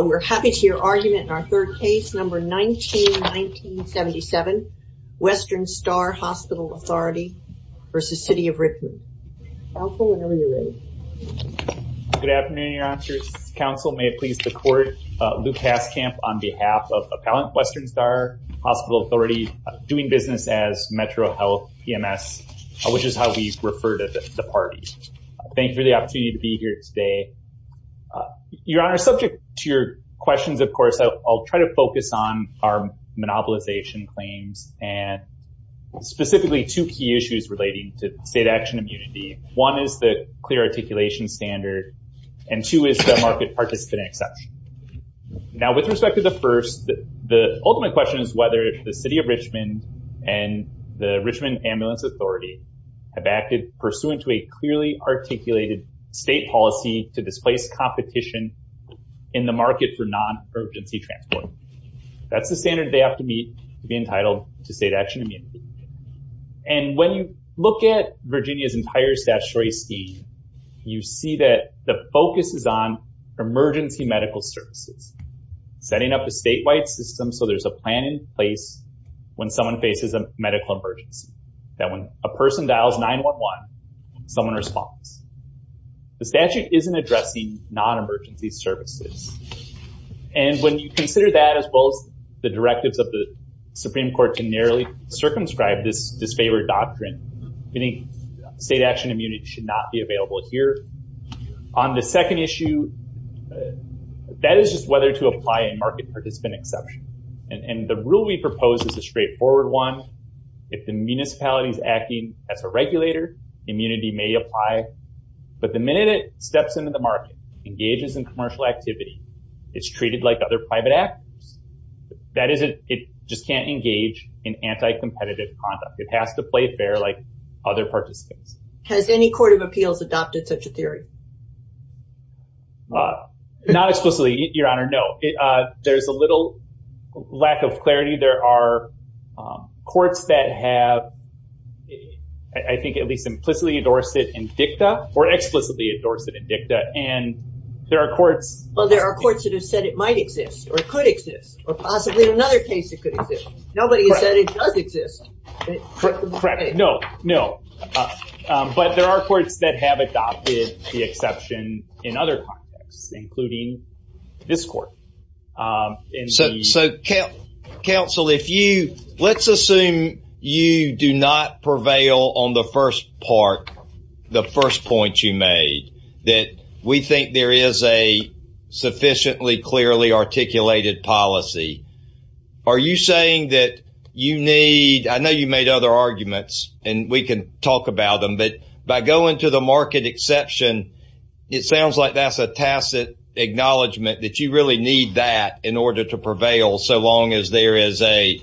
We're happy to hear your argument in our third case, number 19-1977, Western Star Hospital Authority v. City of Richmond. Counsel, whenever you're ready. Good afternoon, Your Honors. Counsel, may it please the Court, Luke Haskamp on behalf of Appellant Western Star Hospital Authority, doing business as Metro Health PMS, which is how we refer to the parties. Thank you for the opportunity to be here today. Your Honor, subject to your questions, of course, I'll try to focus on our monopolization claims and specifically two key issues relating to state action immunity. One is the clear articulation standard, and two is the market participant exception. Now, with respect to the first, the ultimate question is whether the City of Richmond and the Richmond Ambulance Authority have acted pursuant to a clearly articulated state policy to displace competition in the market for non-urgency transport. That's the standard they have to meet to be entitled to state action immunity. And when you look at Virginia's entire statutory scheme, you see that the focus is on emergency medical services, setting up a statewide system so there's a plan in place when someone faces a medical emergency, that when a person dials 911, someone responds. The statute isn't addressing non-emergency services. And when you consider that as well as the directives of the Supreme Court to narrowly circumscribe this disfavored doctrine, state action immunity should not be available here. On the second issue, that is just whether to apply a market participant exception. And the rule we propose is a straightforward one. If the municipality is acting as a regulator, immunity may apply. But the minute it steps into the market, engages in commercial activity, it's treated like other private actors. That is, it just can't engage in anti-competitive conduct. It has to play fair like other participants. Has any court of appeals adopted such a theory? Not explicitly, Your Honor. No, there's a little lack of clarity. There are courts that have, I think, at least implicitly endorsed it in dicta, or explicitly endorsed it in dicta. And there are courts... Well, there are courts that have said it might exist, or could exist, or possibly in another case it could exist. Nobody has said it does exist. Correct. No, no. But there are courts that have adopted the exception in other contexts, including this court. So, counsel, if you... Let's assume you do not prevail on the first part, the first point you made, that we think there is a sufficiently clearly articulated policy. Are you saying that you need... I know you made other arguments, and we can talk about them. But by going to the market exception, it sounds like that's a tacit acknowledgement that you really need that in order to prevail, so long as there is a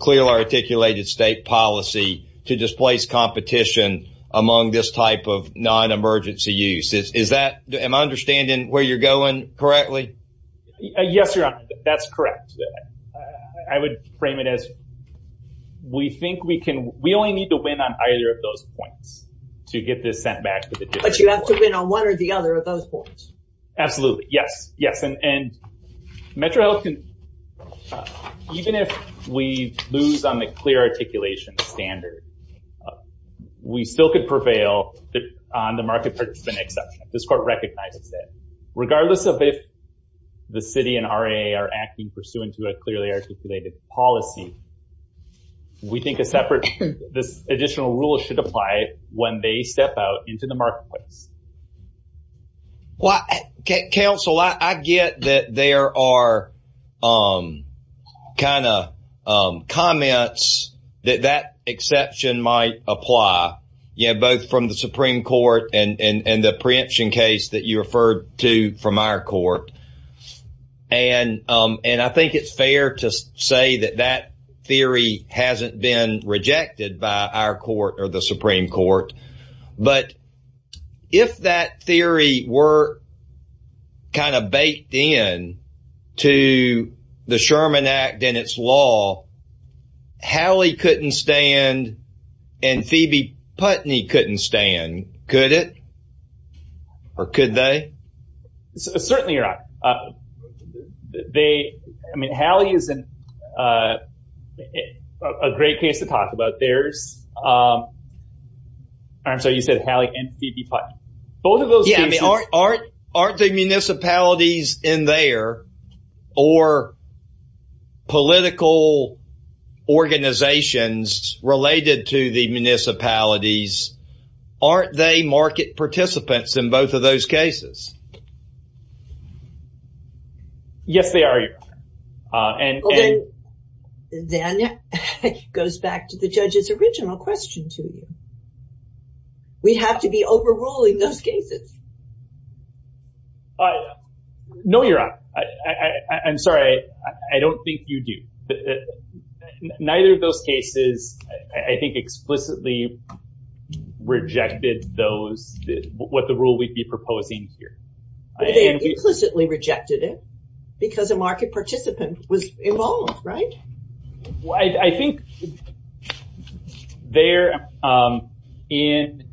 clearly articulated state policy to displace competition among this type of non-emergency use. Am I understanding where you're going correctly? Yes, Your Honor. That's correct. I would frame it as we think we can... We only need to win on either of those points to get this sent back. But you have to win on one or the other of those points. Absolutely. Yes, yes. And Metro Health can... Even if we lose on the clear articulation standard, we still could prevail on the market participant exception. This court recognizes that. Regardless of if the city and RAA are acting pursuant to a clearly articulated policy, we think a separate... This additional rule should apply when they step out into the marketplace. Well, counsel, I get that there are kind of comments that that exception might apply, you know, both from the Supreme Court and the preemption case that you referred to from our court. And I think it's fair to say that that theory hasn't been rejected by our court or the Supreme Court. But if that theory were kind of baked in to the Sherman Act and its law, Hallie couldn't stand and Phoebe Putney couldn't stand, could it? Or could they? Certainly, you're right. I mean, Hallie is a great case to talk about. There's... I'm sorry, you said Hallie and Phoebe Putney. Both of those cases... Yeah, I mean, aren't the municipalities in there or political organizations related to the municipalities, aren't they market participants in both of those cases? Yes, they are, Your Honor. And then it goes back to the judge's original question to you. We have to be overruling those cases. No, Your Honor, I'm sorry. I don't think you do. Neither of those cases, I think, explicitly rejected those, what the rule we'd be proposing here. They implicitly rejected it because a market participant was involved, right? I think there in...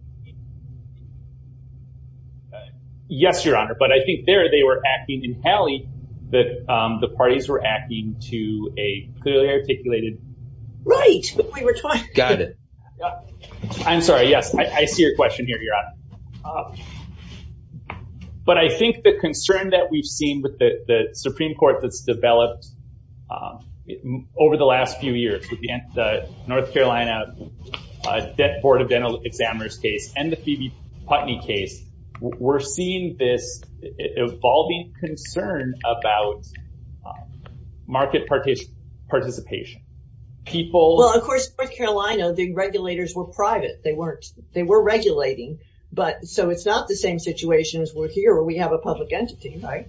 Yes, Your Honor, but I think there they were acting in Hallie that the parties were acting to a clearly articulated... Right, we were talking... Got it. I'm sorry. Yes, I see your question here, Your Honor. But I think the concern that we've seen with the Supreme Court that's developed over the last few years with the North Carolina Board of Dental Examiners case and the Phoebe Putney case, we're seeing this evolving concern about market participation. People... Well, of course, North Carolina, the regulators were private. They weren't. But so it's not the same situation as we're here where we have a public entity, right?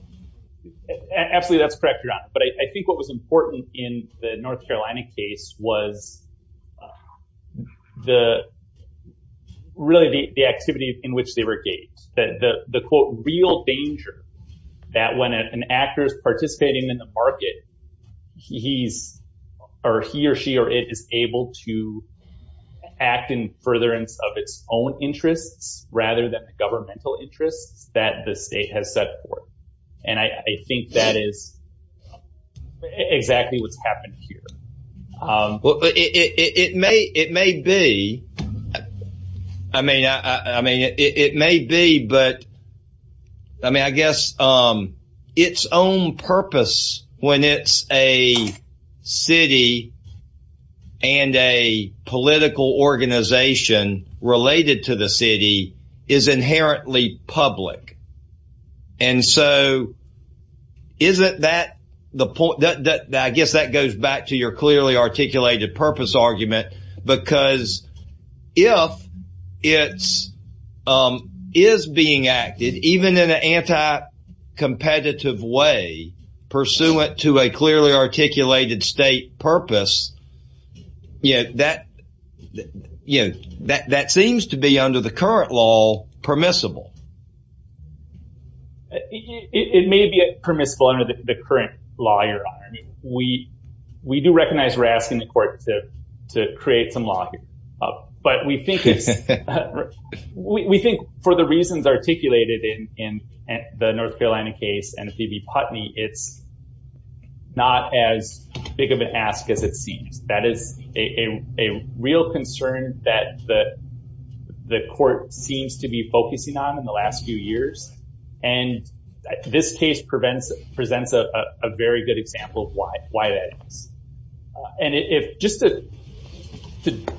Absolutely, that's correct, Your Honor. But I think what was important in the North Carolina case was really the activity in which they were engaged. That the, quote, real danger that when an actor is participating in the market, he or she or it is able to act in furtherance of its own interests rather than the governmental interests that the state has set forth. And I think that is exactly what's happened here. Well, it may be. I mean, it may be, but I mean, I guess its own purpose when it's a city and a political organization related to the city is inherently public. And so isn't that the point that... I guess that goes back to your clearly articulated purpose argument, because if it is being acted, even in an anti-competitive way, pursuant to a clearly articulated state purpose, you know, that seems to be under the current law permissible. It may be permissible under the current law, Your Honor. I mean, we do recognize we're asking the court to create some law here. But we think for the reasons articulated in the North Carolina case and Phoebe Putney, it's not as big of an ask as it seems. That is a real concern that the court seems to be focusing on in the last few years. And this case presents a very good example of why that is. And if just to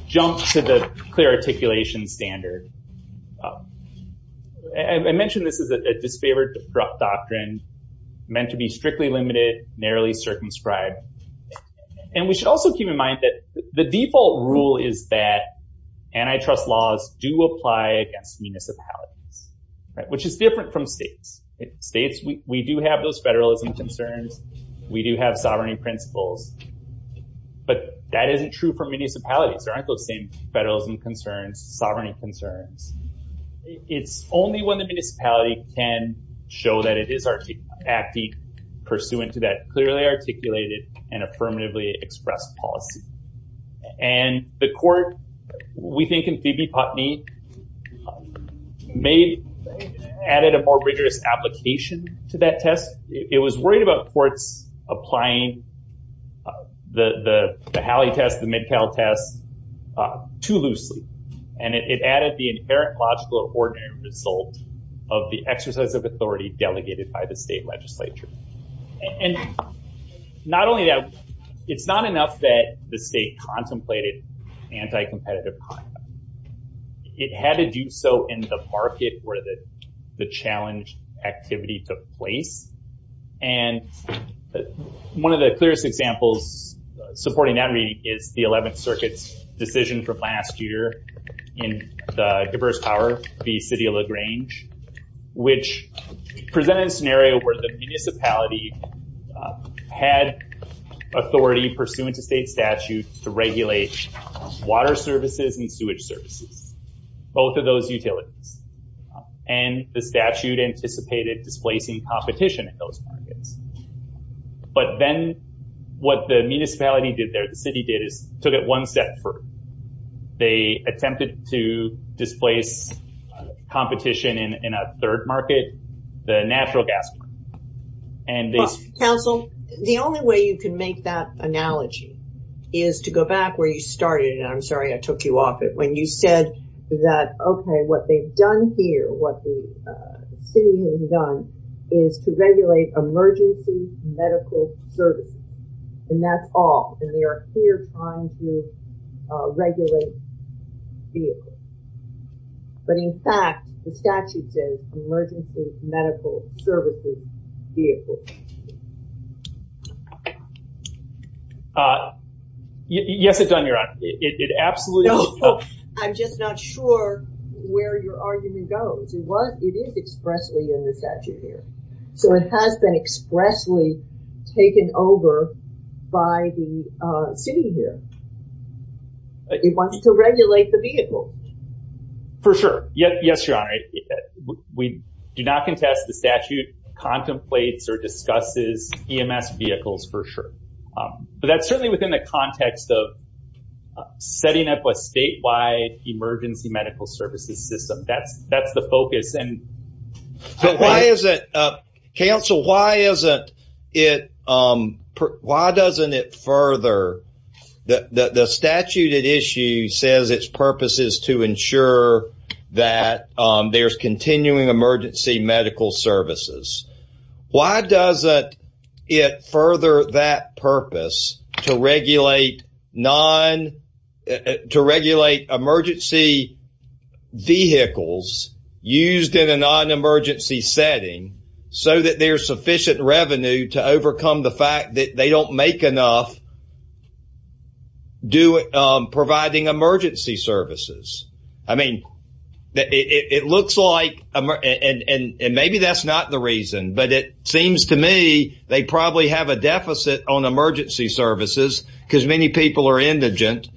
jump to the clear articulation standard, I mentioned this is a disfavored corrupt doctrine meant to be strictly limited, narrowly circumscribed. And we should also keep in mind that the default rule is that antitrust laws do apply against municipalities, which is different from states. States, we do have those federalism concerns. We do have sovereignty principles. But that isn't true for municipalities. There aren't those same federalism concerns, sovereignty concerns. It's only when the municipality can show that it is acting pursuant to that clearly articulated and affirmatively expressed policy. And the court, we think in Phoebe Putney, may have added a more rigorous application to that test. It was worried about courts applying the Halley test, the MidCal test too loosely. And it added the inherent logical or ordinary result of the exercise of authority delegated by the state legislature. And not only that, it's not enough that the state contemplated anti-competitive conduct. It had to do so in the market where the challenge activity took place. And one of the clearest examples supporting that reading is the 11th Circuit's decision from last year in the diverse power, the city of LaGrange, which presented a scenario where the municipality had authority pursuant to state statute to regulate water services and sewage services. Both of those utilities. And the statute anticipated displacing competition in those markets. But then what the municipality did there, the city did, is took it one step further. They attempted to displace competition in a third market, the natural gas market. Council, the only way you can make that analogy is to go back where you started, and I'm sorry I took you off it, when you said that, okay, what they've done here, what the city has done, is to regulate emergency medical services. And that's all. And they are here trying to regulate vehicles. But in fact, the statute says emergency medical services vehicles. Uh, yes, it does, Your Honor, it absolutely- No, I'm just not sure where your argument goes. It was, it is expressly in the statute here. So it has been expressly taken over by the city here. It wants to regulate the vehicle. For sure, yes, Your Honor. We do not contest the statute contemplates or discusses EMS vehicles for sure. But that's certainly within the context of setting up a statewide emergency medical services system. That's the focus. But why is it, Council, why isn't it, why doesn't it further, the statute at issue says its purpose is to ensure that there's continuing emergency medical services. Why doesn't it further that purpose to regulate non, to regulate emergency vehicles used in a non-emergency setting so that there's sufficient revenue to overcome the fact that they don't make enough to do, providing emergency services? I mean, it looks like, and maybe that's not the reason, but it seems to me they probably have a deficit on emergency services because many people are indigent.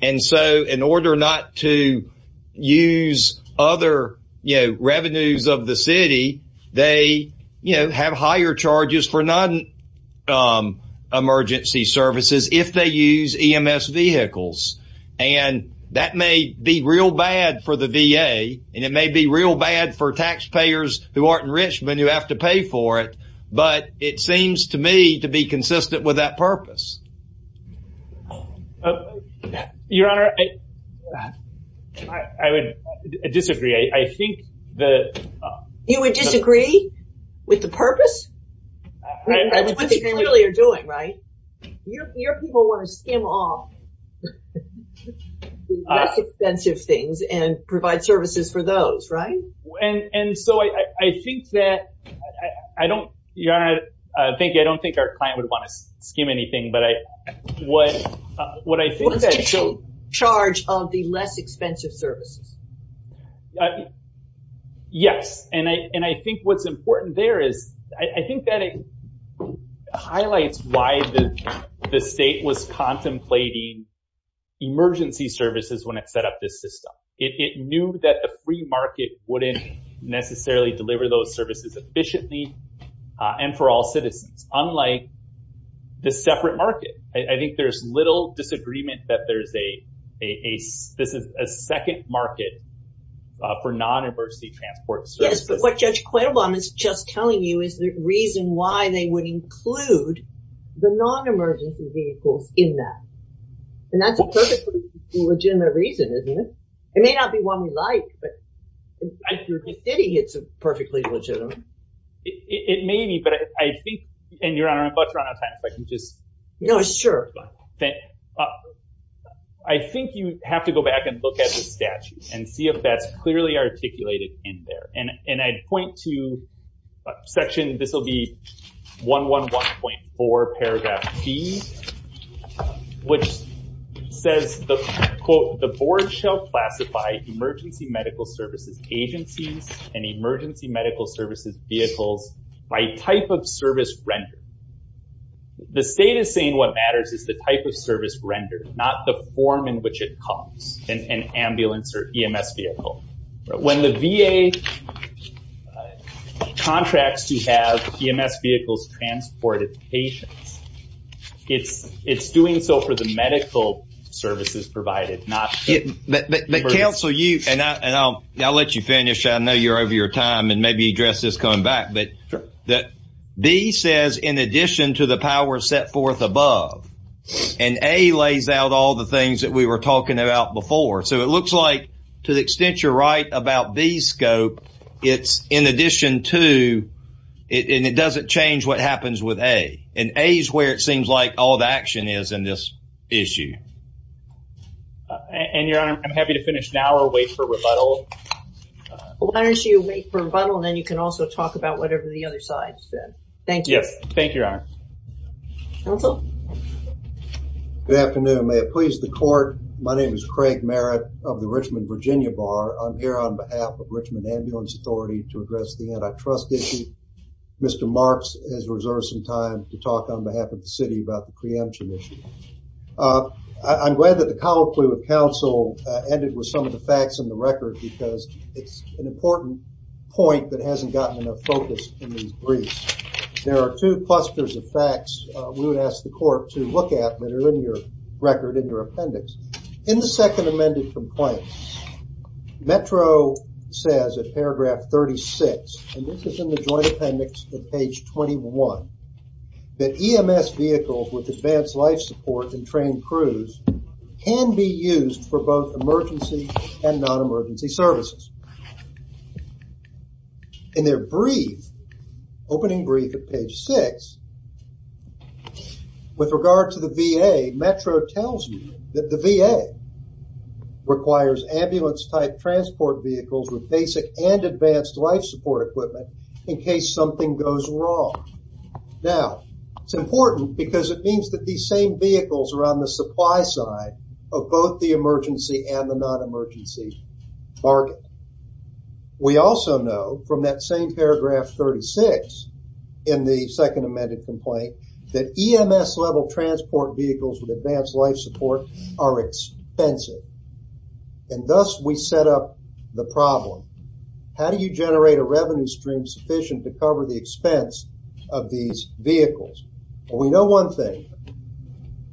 And so in order not to use other, you know, revenues of the city, they, you know, have higher charges for non-emergency services if they use EMS vehicles. And that may be real bad for the VA. And it may be real bad for taxpayers who aren't rich, but you have to pay for it. But it seems to me to be consistent with that purpose. Your Honor, I would disagree. I think that... You would disagree with the purpose? That's what they clearly are doing, right? Your people want to skim off the less expensive things and provide services for those, right? And so I think that I don't... Your Honor, I don't think our client would want to skim anything, but what I think... What's the charge of the less expensive services? Yes. And I think what's important there is, I think that it highlights why the state was contemplating emergency services when it set up this system. It knew that the free market wouldn't necessarily deliver those services efficiently and for all citizens, unlike the separate market. I think there's little disagreement that there's a... This is a second market for non-emergency transport services. But what Judge Quaylebaum is just telling you is the reason why they would include the non-emergency vehicles in that. And that's a perfectly legitimate reason, isn't it? It may not be one we like, but it's perfectly legitimate. It may be, but I think... And Your Honor, I'm about to run out of time, if I can just... No, sure. I think you have to go back and look at the statute and see if that's clearly articulated in there. And I'd point to section... This will be 111.4, paragraph B, which says, the board shall classify emergency medical services agencies and emergency medical services vehicles by type of service rendered. The state is saying what matters is the type of service rendered, not the form in which it comes, an ambulance or EMS vehicle. When the VA contracts to have EMS vehicles transported to patients, it's doing so for the medical services provided, not... But counsel, you... And I'll let you finish. I know you're over your time and maybe address this coming back. But B says, in addition to the power set forth above, and A lays out all the things that we were talking about before. So it looks like, to the extent you're right about B scope, it's in addition to, and it doesn't change what happens with A. And A is where it seems like all the action is in this issue. And Your Honor, I'm happy to finish now or wait for rebuttal. Why don't you wait for rebuttal, and then you can also talk about whatever the other side said. Thank you. Thank you, Your Honor. Counsel? Good afternoon. May it please the court. My name is Craig Merritt of the Richmond Virginia Bar. I'm here on behalf of Richmond Ambulance Authority to address the antitrust issue. Mr. Marks has reserved some time to talk on behalf of the city about the preemption issue. I'm glad that the colloquy with counsel ended with some of the facts in the record, because it's an important point that hasn't gotten enough focus in these briefs. There are two clusters of facts we would ask the court to look at that are in your record, in your appendix. In the second amended complaint, Metro says at paragraph 36, and this is in the joint appendix at page 21, that EMS vehicles with advanced life support and trained crews can be used for both emergency and non-emergency services. In their brief, opening brief at page six, with regard to the VA, Metro tells you that the VA requires ambulance type transport vehicles with basic and advanced life support equipment in case something goes wrong. Now, it's important because it means that these same vehicles are on the supply side of both the emergency and the non-emergency market. We also know from that same paragraph 36 in the second amended complaint that EMS level transport vehicles with advanced life support are expensive. And thus, we set up the problem. How do you generate a revenue stream sufficient to cover the expense of these vehicles? We know one thing.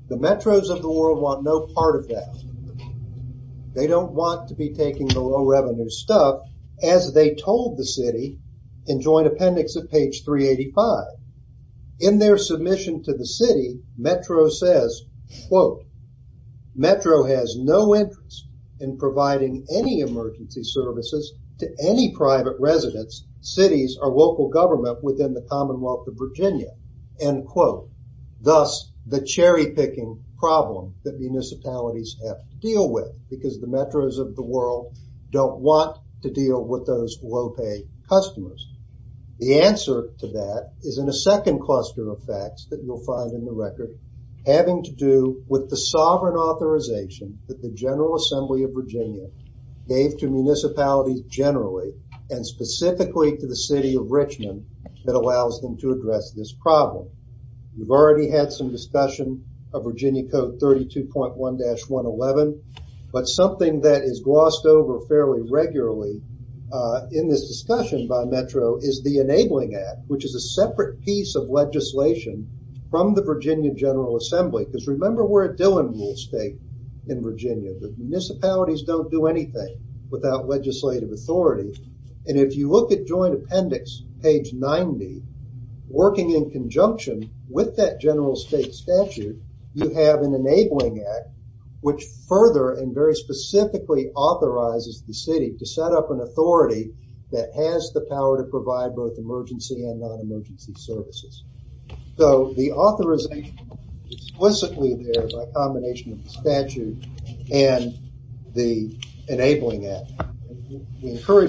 The metros of the world want no part of that. They don't want to be taking the low revenue stuff, as they told the city in joint appendix at page 385. In their submission to the city, Metro says, Metro has no interest in providing any emergency services to any private residents, cities, or local government within the Commonwealth of Virginia. Thus, the cherry picking problem that municipalities have to deal with because the metros of the world don't want to deal with those low-pay customers. The answer to that is in a second cluster of facts that you'll find in the record having to do with the sovereign authorization that the General Assembly of Virginia gave to municipalities generally and specifically to the city of Richmond that allows them to address this problem. We've already had some discussion of Virginia Code 32.1-1111, but something that is glossed over fairly regularly in this discussion by Metro is the Enabling Act, which is a separate piece of legislation from the Virginia General Assembly. Because remember, we're a Dillon rule state in Virginia. The municipalities don't do anything without legislative authority. And if you look at joint appendix, page 90, working in conjunction with that general state statute, you have an Enabling Act, which further and very specifically authorizes the city to set up an authority that has the power to provide both emergency and non-emergency services. So, the authorization is explicitly there by combination of the statute and the Enabling Act.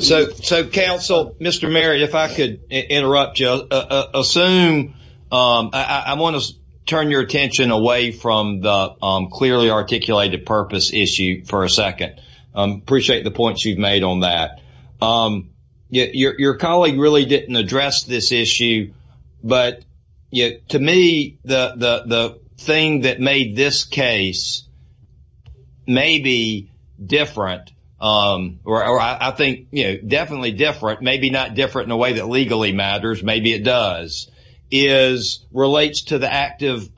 So, Council, Mr. Merritt, if I could interrupt you. Assume, I want to turn your attention away from the clearly articulated purpose issue for a second. Appreciate the points you've made on that. Your colleague really didn't address this issue, but to me, the thing that made this case maybe different, or I think, you know, definitely different, maybe not different in a way that legally matters. Maybe it does. Is relates to the active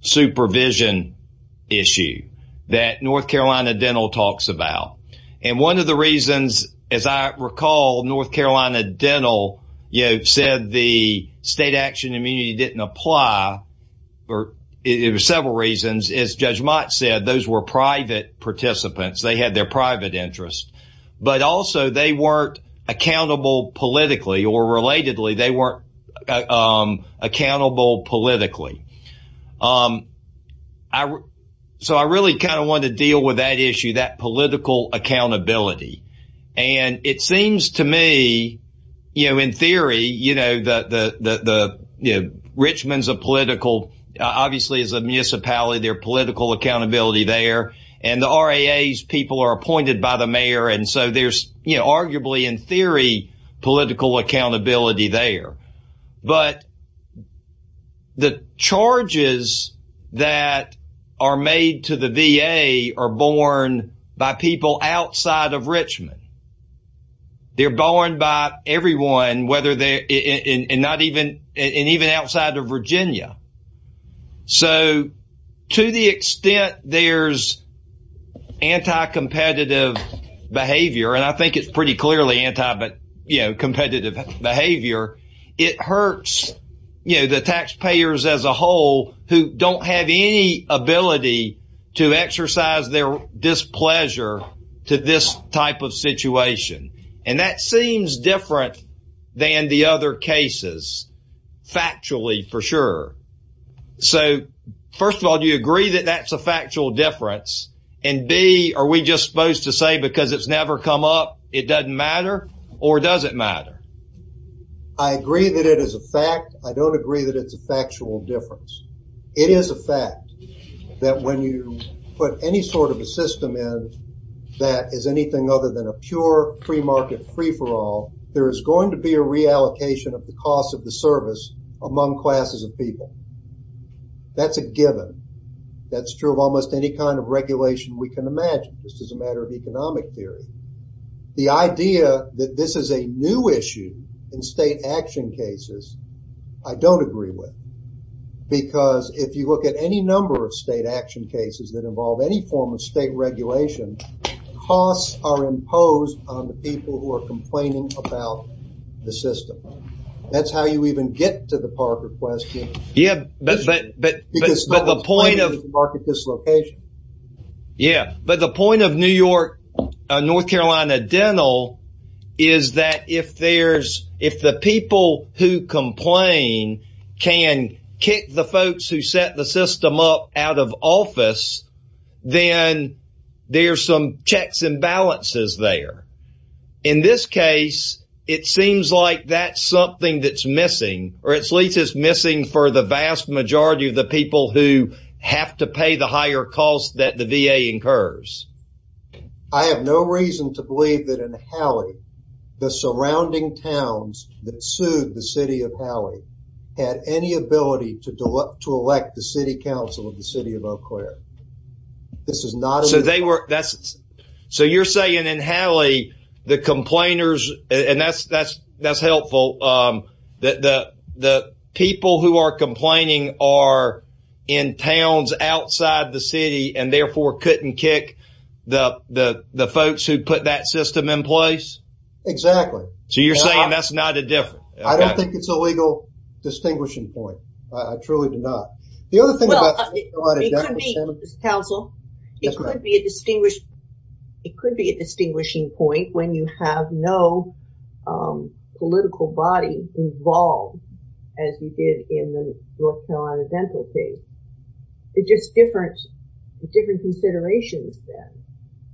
supervision issue that North Carolina Dental talks about. And one of the reasons, as I recall, North Carolina Dental, you know, said the state action immunity didn't apply, or it was several reasons, as Judge Mott said, those were private participants. They had their private interests. But also, they weren't accountable politically or relatedly. They weren't accountable politically. So, I really kind of want to deal with that issue, that political accountability. And it seems to me, you know, in theory, you know, Richmond's a political, obviously, as a municipality, their political accountability there. And the RAA's people are appointed by the mayor. And so, there's, you know, arguably, in theory, political accountability there. But the charges that are made to the VA are borne by people outside of Richmond. They're borne by everyone, whether they're, and not even, and even outside of Virginia. So, to the extent there's anti-competitive behavior, and I think it's pretty clearly anti, but, you know, competitive behavior, it hurts, you know, the taxpayers as a whole, who don't have any ability to exercise their displeasure to this type of situation. And that seems different than the other cases, factually, for sure. So, first of all, do you agree that that's a factual difference? And B, are we just supposed to say, because it's never come up, it doesn't matter, or does it matter? I agree that it is a fact. I don't agree that it's a factual difference. It is a fact that when you put any sort of a system in that is anything other than a pure free market free-for-all, there is going to be a reallocation of the cost of the service among classes of people. That's a given. That's true of almost any kind of regulation we can imagine. This is a matter of economic theory. The idea that this is a new issue in state action cases, I don't agree with. Because if you look at any number of state action cases that involve any form of state regulation, costs are imposed on the people who are complaining about the system. That's how you even get to the Parker question. Yeah, but the point of New York, North Carolina Dental, is that if the people who complain can kick the folks who set the system up out of office, then there's some checks and balances there. In this case, it seems like that's something that's missing, or at least it's missing for the vast majority of the people who have to pay the higher cost that the VA incurs. I have no reason to believe that in Halley, the surrounding towns that sued the city of Halley had any ability to elect the city council of the city of Eau Claire. This is not a... So they were... So you're saying in Halley, the complainers, and that's helpful, the people who are complaining are in towns outside the city and therefore couldn't kick the folks who put that system in place? Exactly. So you're saying that's not a difference? I don't think it's a legal distinguishing point. I truly do not. The other thing about... Well, it could be, counsel, it could be a distinguishing point when you have no political body involved, as you did in the North Carolina dental case. It's just different considerations then,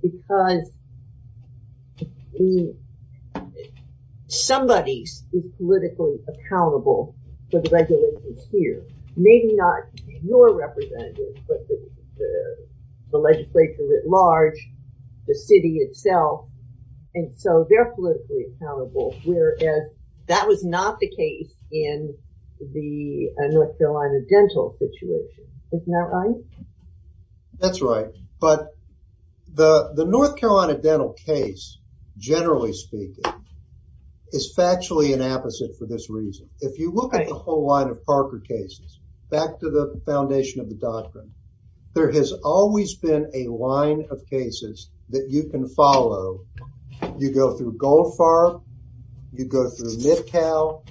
because somebody is politically accountable for the regulations here. Maybe not your representative, but the legislature at large, the city itself, and so they're politically accountable, whereas that was not the case in the North Carolina dental situation. Isn't that right? That's right. But the North Carolina dental case, generally speaking, is factually an opposite for this reason. If you look at the whole line of Parker cases, back to the foundation of the doctrine, there has always been a line of cases that you can follow. You go through Goldfarb, you go through Midcow,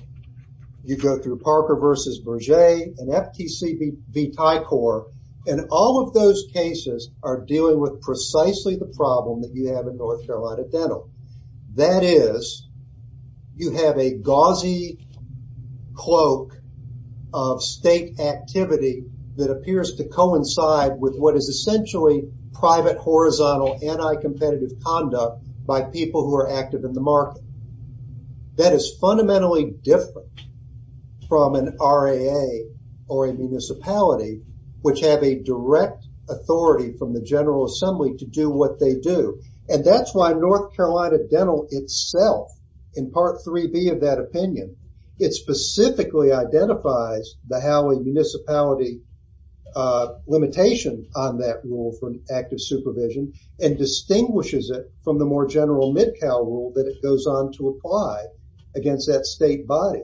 you go through Parker versus Berger, and FTC v Tycor, and all of those cases are dealing with precisely the problem that you have in North Carolina dental. That is, you have a gauzy cloak of state activity that appears to coincide with what is essentially private, horizontal, anti-competitive conduct by people who are active in the market. That is fundamentally different from an RAA or a municipality, which have a direct authority from the General Assembly to do what they do. And that's why North Carolina dental itself, in Part 3B of that opinion, it specifically identifies the how a municipality a limitation on that rule from active supervision and distinguishes it from the more general Midcow rule that it goes on to apply against that state body.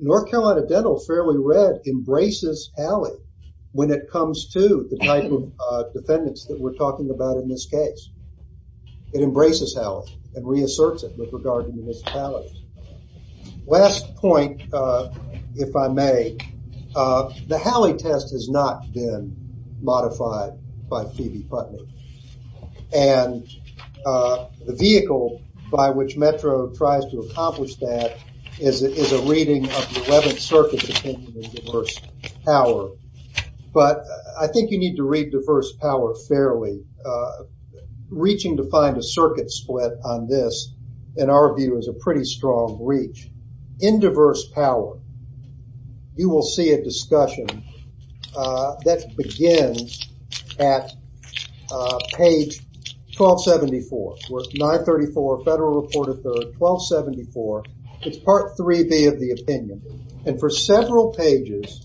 North Carolina dental, fairly read, embraces Howley when it comes to the type of defendants that we're talking about in this case. It embraces Howley and reasserts it with regard to municipalities. Last point, if I may, the Howley test has not been modified by Phoebe Putnam. And the vehicle by which Metro tries to accomplish that is a reading of the 11th Circuit's opinion of diverse power. But I think you need to read diverse power fairly. Reaching to find a circuit split on this, in our view, is a pretty strong reach. In diverse power, you will see a discussion that begins at page 1274. We're at 934 Federal Report of the 1274. It's Part 3B of the opinion. And for several pages,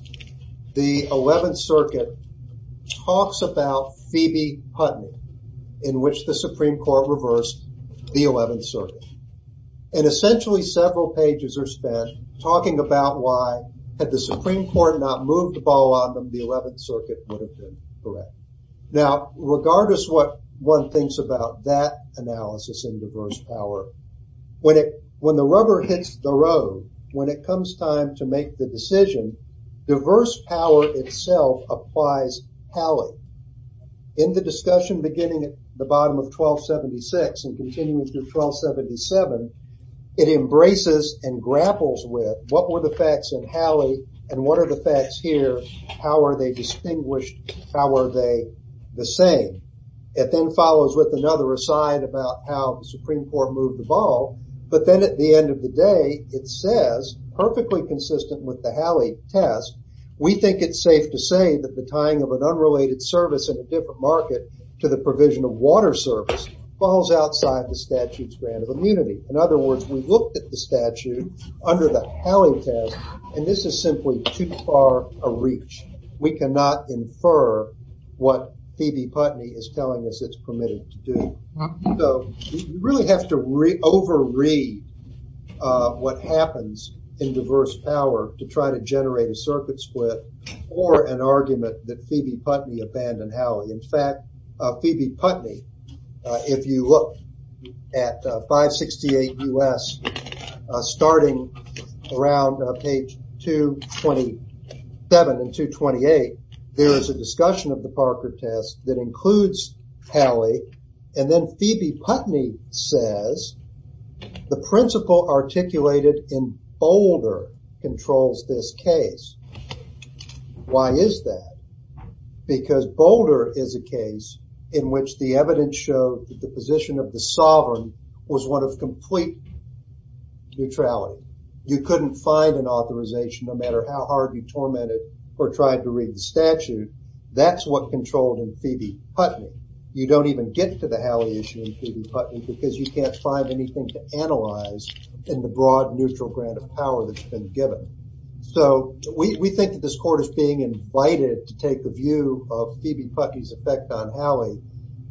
the 11th Circuit talks about Phoebe Putnam in which the Supreme Court reversed the 11th Circuit. And essentially, several pages are spent talking about why had the Supreme Court not moved the ball on them, the 11th Circuit would have been correct. Now, regardless what one thinks about that analysis in diverse power, when the rubber hits the road, when it comes time to make the decision, diverse power itself applies Howley. In the discussion beginning at the bottom of 1276 and continuing through 1277, it embraces and grapples with what were the facts in Howley and what are the facts here? How are they distinguished? How are they the same? It then follows with another aside about how the Supreme Court moved the ball. But then at the end of the day, it says perfectly consistent with the Howley test. We think it's safe to say that the tying of an unrelated service in a different market to the provision of water service falls outside the statute's grant of immunity. In other words, we looked at the statute under the Howley test, and this is simply too far a reach. We cannot infer what Phoebe Putney is telling us it's permitted to do. So we really have to re-overread what happens in diverse power to try to generate a circuit split or an argument that Phoebe Putney abandoned Howley. In fact, Phoebe Putney, if you look at 568 U.S., starting around page 227 and 228, there is a discussion of the Parker test that includes Howley. And then Phoebe Putney says the principle articulated in Boulder controls this case. Why is that? Because Boulder is a case in which the evidence showed that the position of the sovereign was one of complete neutrality. You couldn't find an authorization no matter how hard you tormented or tried to read the statute. That's what controlled in Phoebe Putney. You don't even get to the Howley issue in Phoebe Putney because you can't find anything to analyze in the broad neutral grant of power that's been given. So we think that this court is being invited to take the view of Phoebe Putney's effect on Howley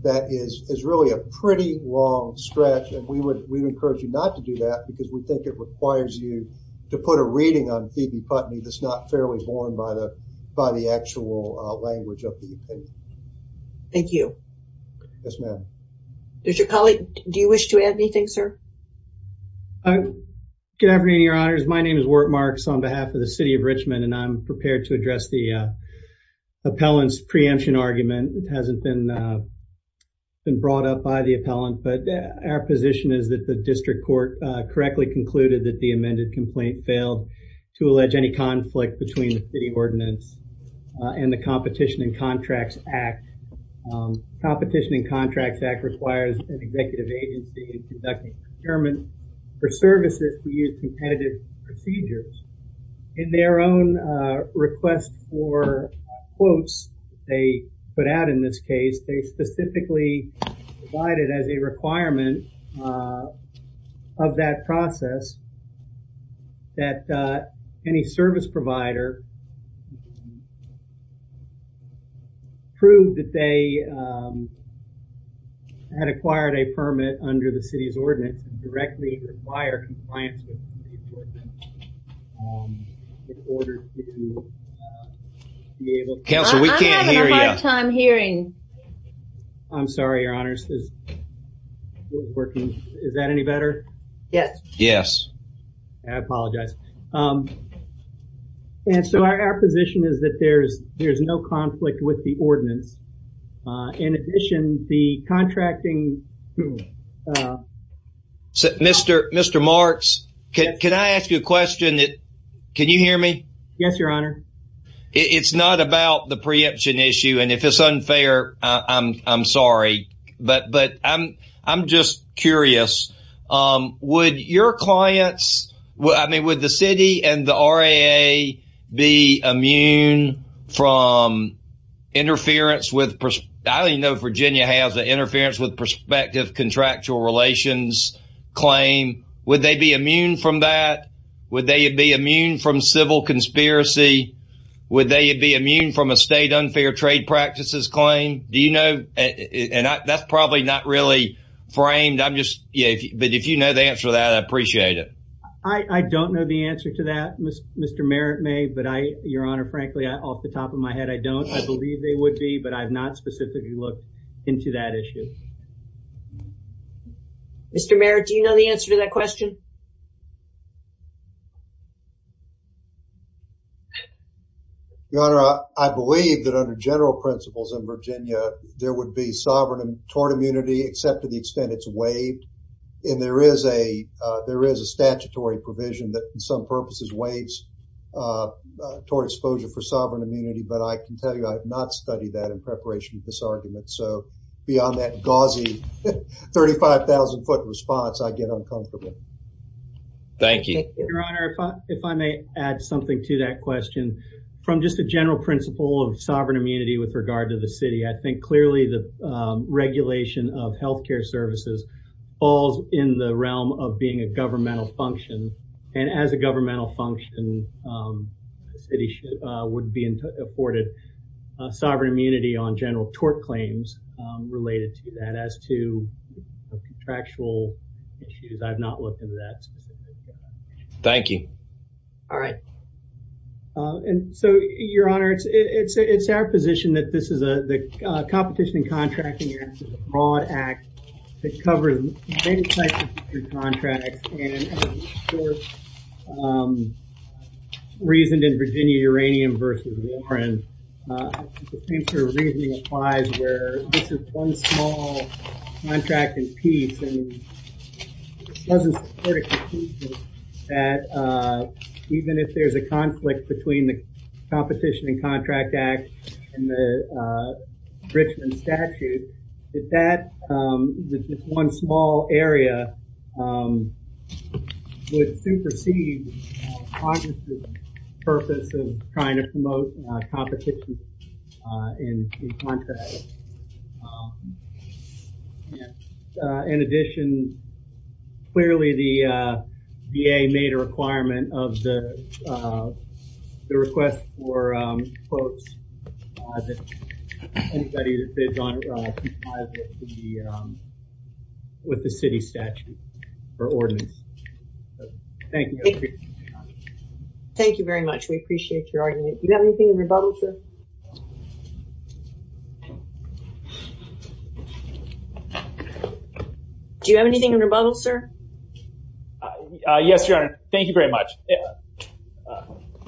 that is really a pretty long stretch. And we would encourage you not to do that because we think it requires you to put a reading on Phoebe Putney that's not fairly borne by the actual language of the opinion. Thank you. Yes, ma'am. Mr. Collick, do you wish to add anything, sir? Good afternoon, your honors. My name is Wart Marks on behalf of the city of Richmond and I'm prepared to address the appellant's preemption argument. It hasn't been brought up by the appellant, but our position is that the district court correctly concluded that the amended complaint failed to allege any conflict between the city ordinance and the Competition and Contracts Act. Competition and Contracts Act requires an executive agency in conducting procurement for services to use competitive procedures in their own request for quotes they put out in this case. They specifically provided as a requirement of that process that any service provider proved that they had acquired a permit under the city's ordinance to directly require compliance with the ordinance in order to be able to... Counselor, we can't hear you. I'm having a hard time hearing. I'm sorry, your honors. Is that any better? Yes. Yes. I apologize. And so our position is that there's no conflict with the ordinance. In addition, the contracting... Mr. Marks, can I ask you a question? Can you hear me? Yes, your honor. It's not about the preemption issue. And if it's unfair, I'm sorry. But I'm just curious. Would your clients... I mean, would the city and the RAA be immune from interference with... I don't even know if Virginia has an interference with prospective contractual relations. Would they be immune from that? Would they be immune from civil conspiracy? Would they be immune from a state unfair trade practices claim? Do you know? And that's probably not really framed. I'm just... But if you know the answer to that, I appreciate it. I don't know the answer to that, Mr. Merritt may. But your honor, frankly, off the top of my head, I don't. I believe they would be. But I've not specifically looked into that issue. Mr. Merritt, do you know the answer to that question? Your honor, I believe that under general principles in Virginia, there would be sovereign and torn immunity, except to the extent it's waived. And there is a statutory provision that in some purposes waives toward exposure for sovereign immunity. But I can tell you, I have not studied that in preparation for this argument. So beyond that, gauzy 35,000 foot response, I get uncomfortable. Thank you, your honor. If I may add something to that question from just a general principle of sovereign immunity with regard to the city, I think clearly the regulation of health care services falls in the realm of being a governmental function. And as a governmental function, the city would be afforded sovereign immunity on general tort claims related to that. As to contractual issues, I've not looked into that. Thank you. All right. And so, your honor, it's our position that this is a competition and contracting broad act that covers many types of contracts. Reasoned in Virginia, Uranium versus Warren. The same sort of reasoning applies where this is one small contracting piece and doesn't support a conclusion that even if there's a conflict between the competition and contract act and the Richmond statute, that that one small area would supersede the purpose of trying to promote competition in the contract. In addition, clearly the VA made a requirement of the request for quotes that anybody that bids on it with the city statute or ordinance. Thank you. Thank you very much. We appreciate your argument. You have anything in rebuttal, sir? Yes, your honor. Thank you very much.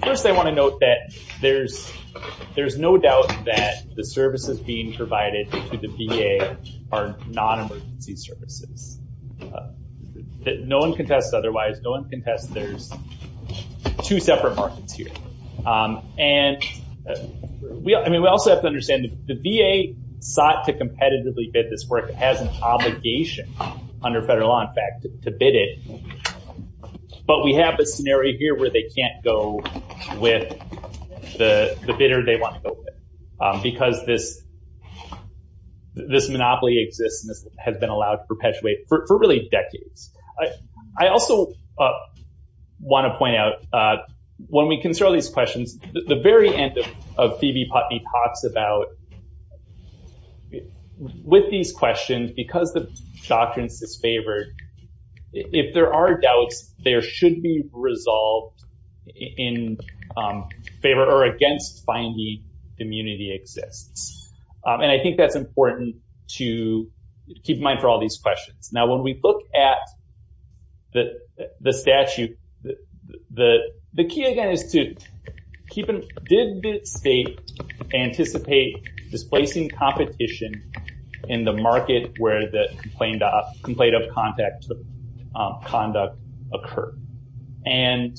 First, I want to note that there's no doubt that the services being provided to the VA are non-emergency services. No one contests otherwise. which is the next item that we're going to look at is the VA's request for quotes. We also have to understand the VA sought to competitively bid this work as an obligation under federal law, in fact, to bid it. But we have a scenario here where they can't go with the bidder they want to go with because this monopoly exists and this has been allowed to perpetuate for really decades. I also want to point out when we consider these questions, the very end of Phoebe Putney talks about with these questions because the doctrines is favored, if there are doubts, there should be resolved in favor or against finding immunity exists. And I think that's important to keep in mind for all these questions. Now, when we look at the statute, the key again is to did the state anticipate displacing competition in the market where the complaint of contact conduct occur? And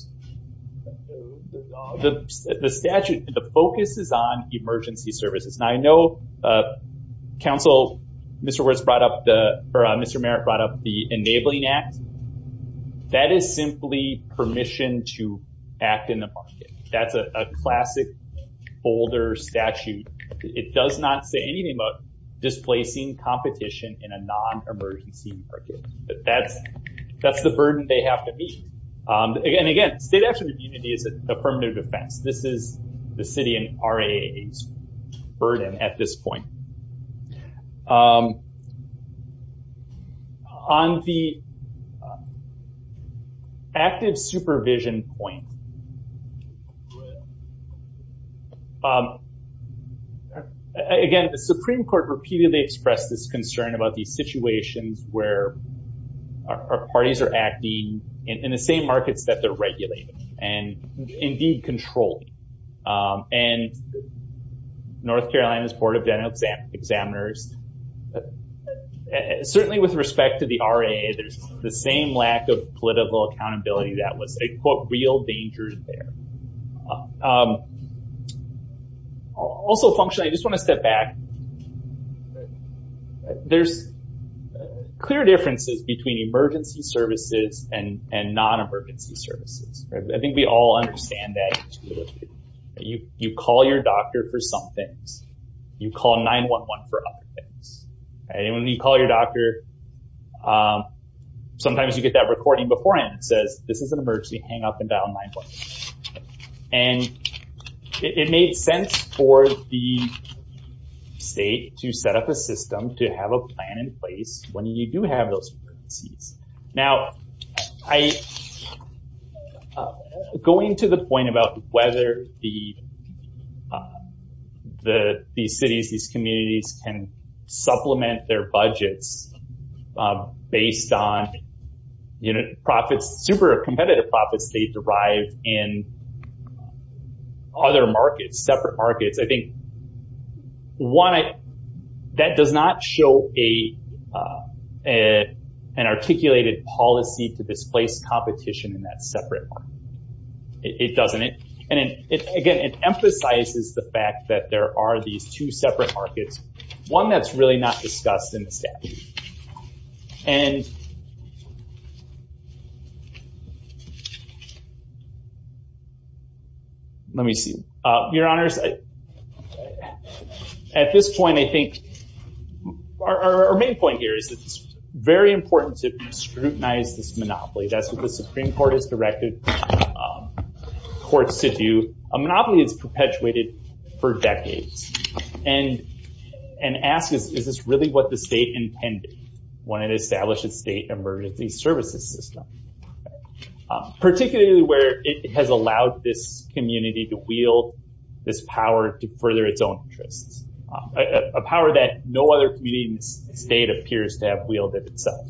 the statute, the focus is on emergency services. Now, I know council, Mr. Merritt brought up the enabling act. That is simply permission to act in the market. That's a classic older statute. It does not say anything about displacing competition in a non-emergency market. But that's the burden they have to meet. Again, again, state action immunity is a permanent offense. This is the city and RAA's burden at this point. On the active supervision point, again, the Supreme Court repeatedly expressed this concern about these situations where our parties are acting in the same markets that they're regulated and indeed controlled. And North Carolina's Board of Dental Examiners, certainly with respect to the RAA, there's the same lack of political accountability that was a quote, real danger there. Also, functionally, I just want to step back. There's clear differences between emergency services and non-emergency services. I think we all understand that. You call your doctor for some things. You call 911 for other things. And when you call your doctor, sometimes you get that recording beforehand that says, this is an emergency, hang up and dial 911. And it made sense for the state to set up a system to have a plan in place when you do have those emergencies. Now, going to the point about whether these cities, these communities can supplement their budgets based on profits, super competitive profits they derive in other markets, separate markets, I think that does not show an articulated policy to displace competition in that separate market. It doesn't. And again, it emphasizes the fact that there are these two separate markets, one that's really not discussed in the statute. And let me see. Your honors, at this point, I think our main point here is that it's very important to scrutinize this monopoly. That's what the Supreme Court has directed courts to do. A monopoly is perpetuated for decades. And ask is this really what the state intended when it established its state emergency services system? Particularly where it has allowed this community to wield this power to further its own interests, a power that no other community in the state appears to have wielded itself.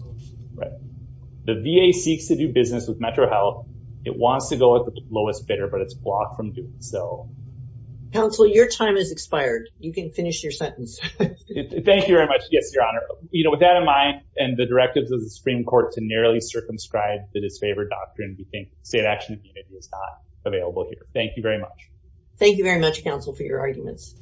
The VA seeks to do business with Metro Health. It wants to go at the lowest bidder, but it's blocked from doing so. Counsel, your time is expired. You can finish your sentence. Thank you very much. Yes, your honor. You know, with that in mind and the directives of the Supreme Court to nearly circumscribe the disfavored doctrine, we think state action is not available here. Thank you very much. Thank you very much, counsel, for your arguments.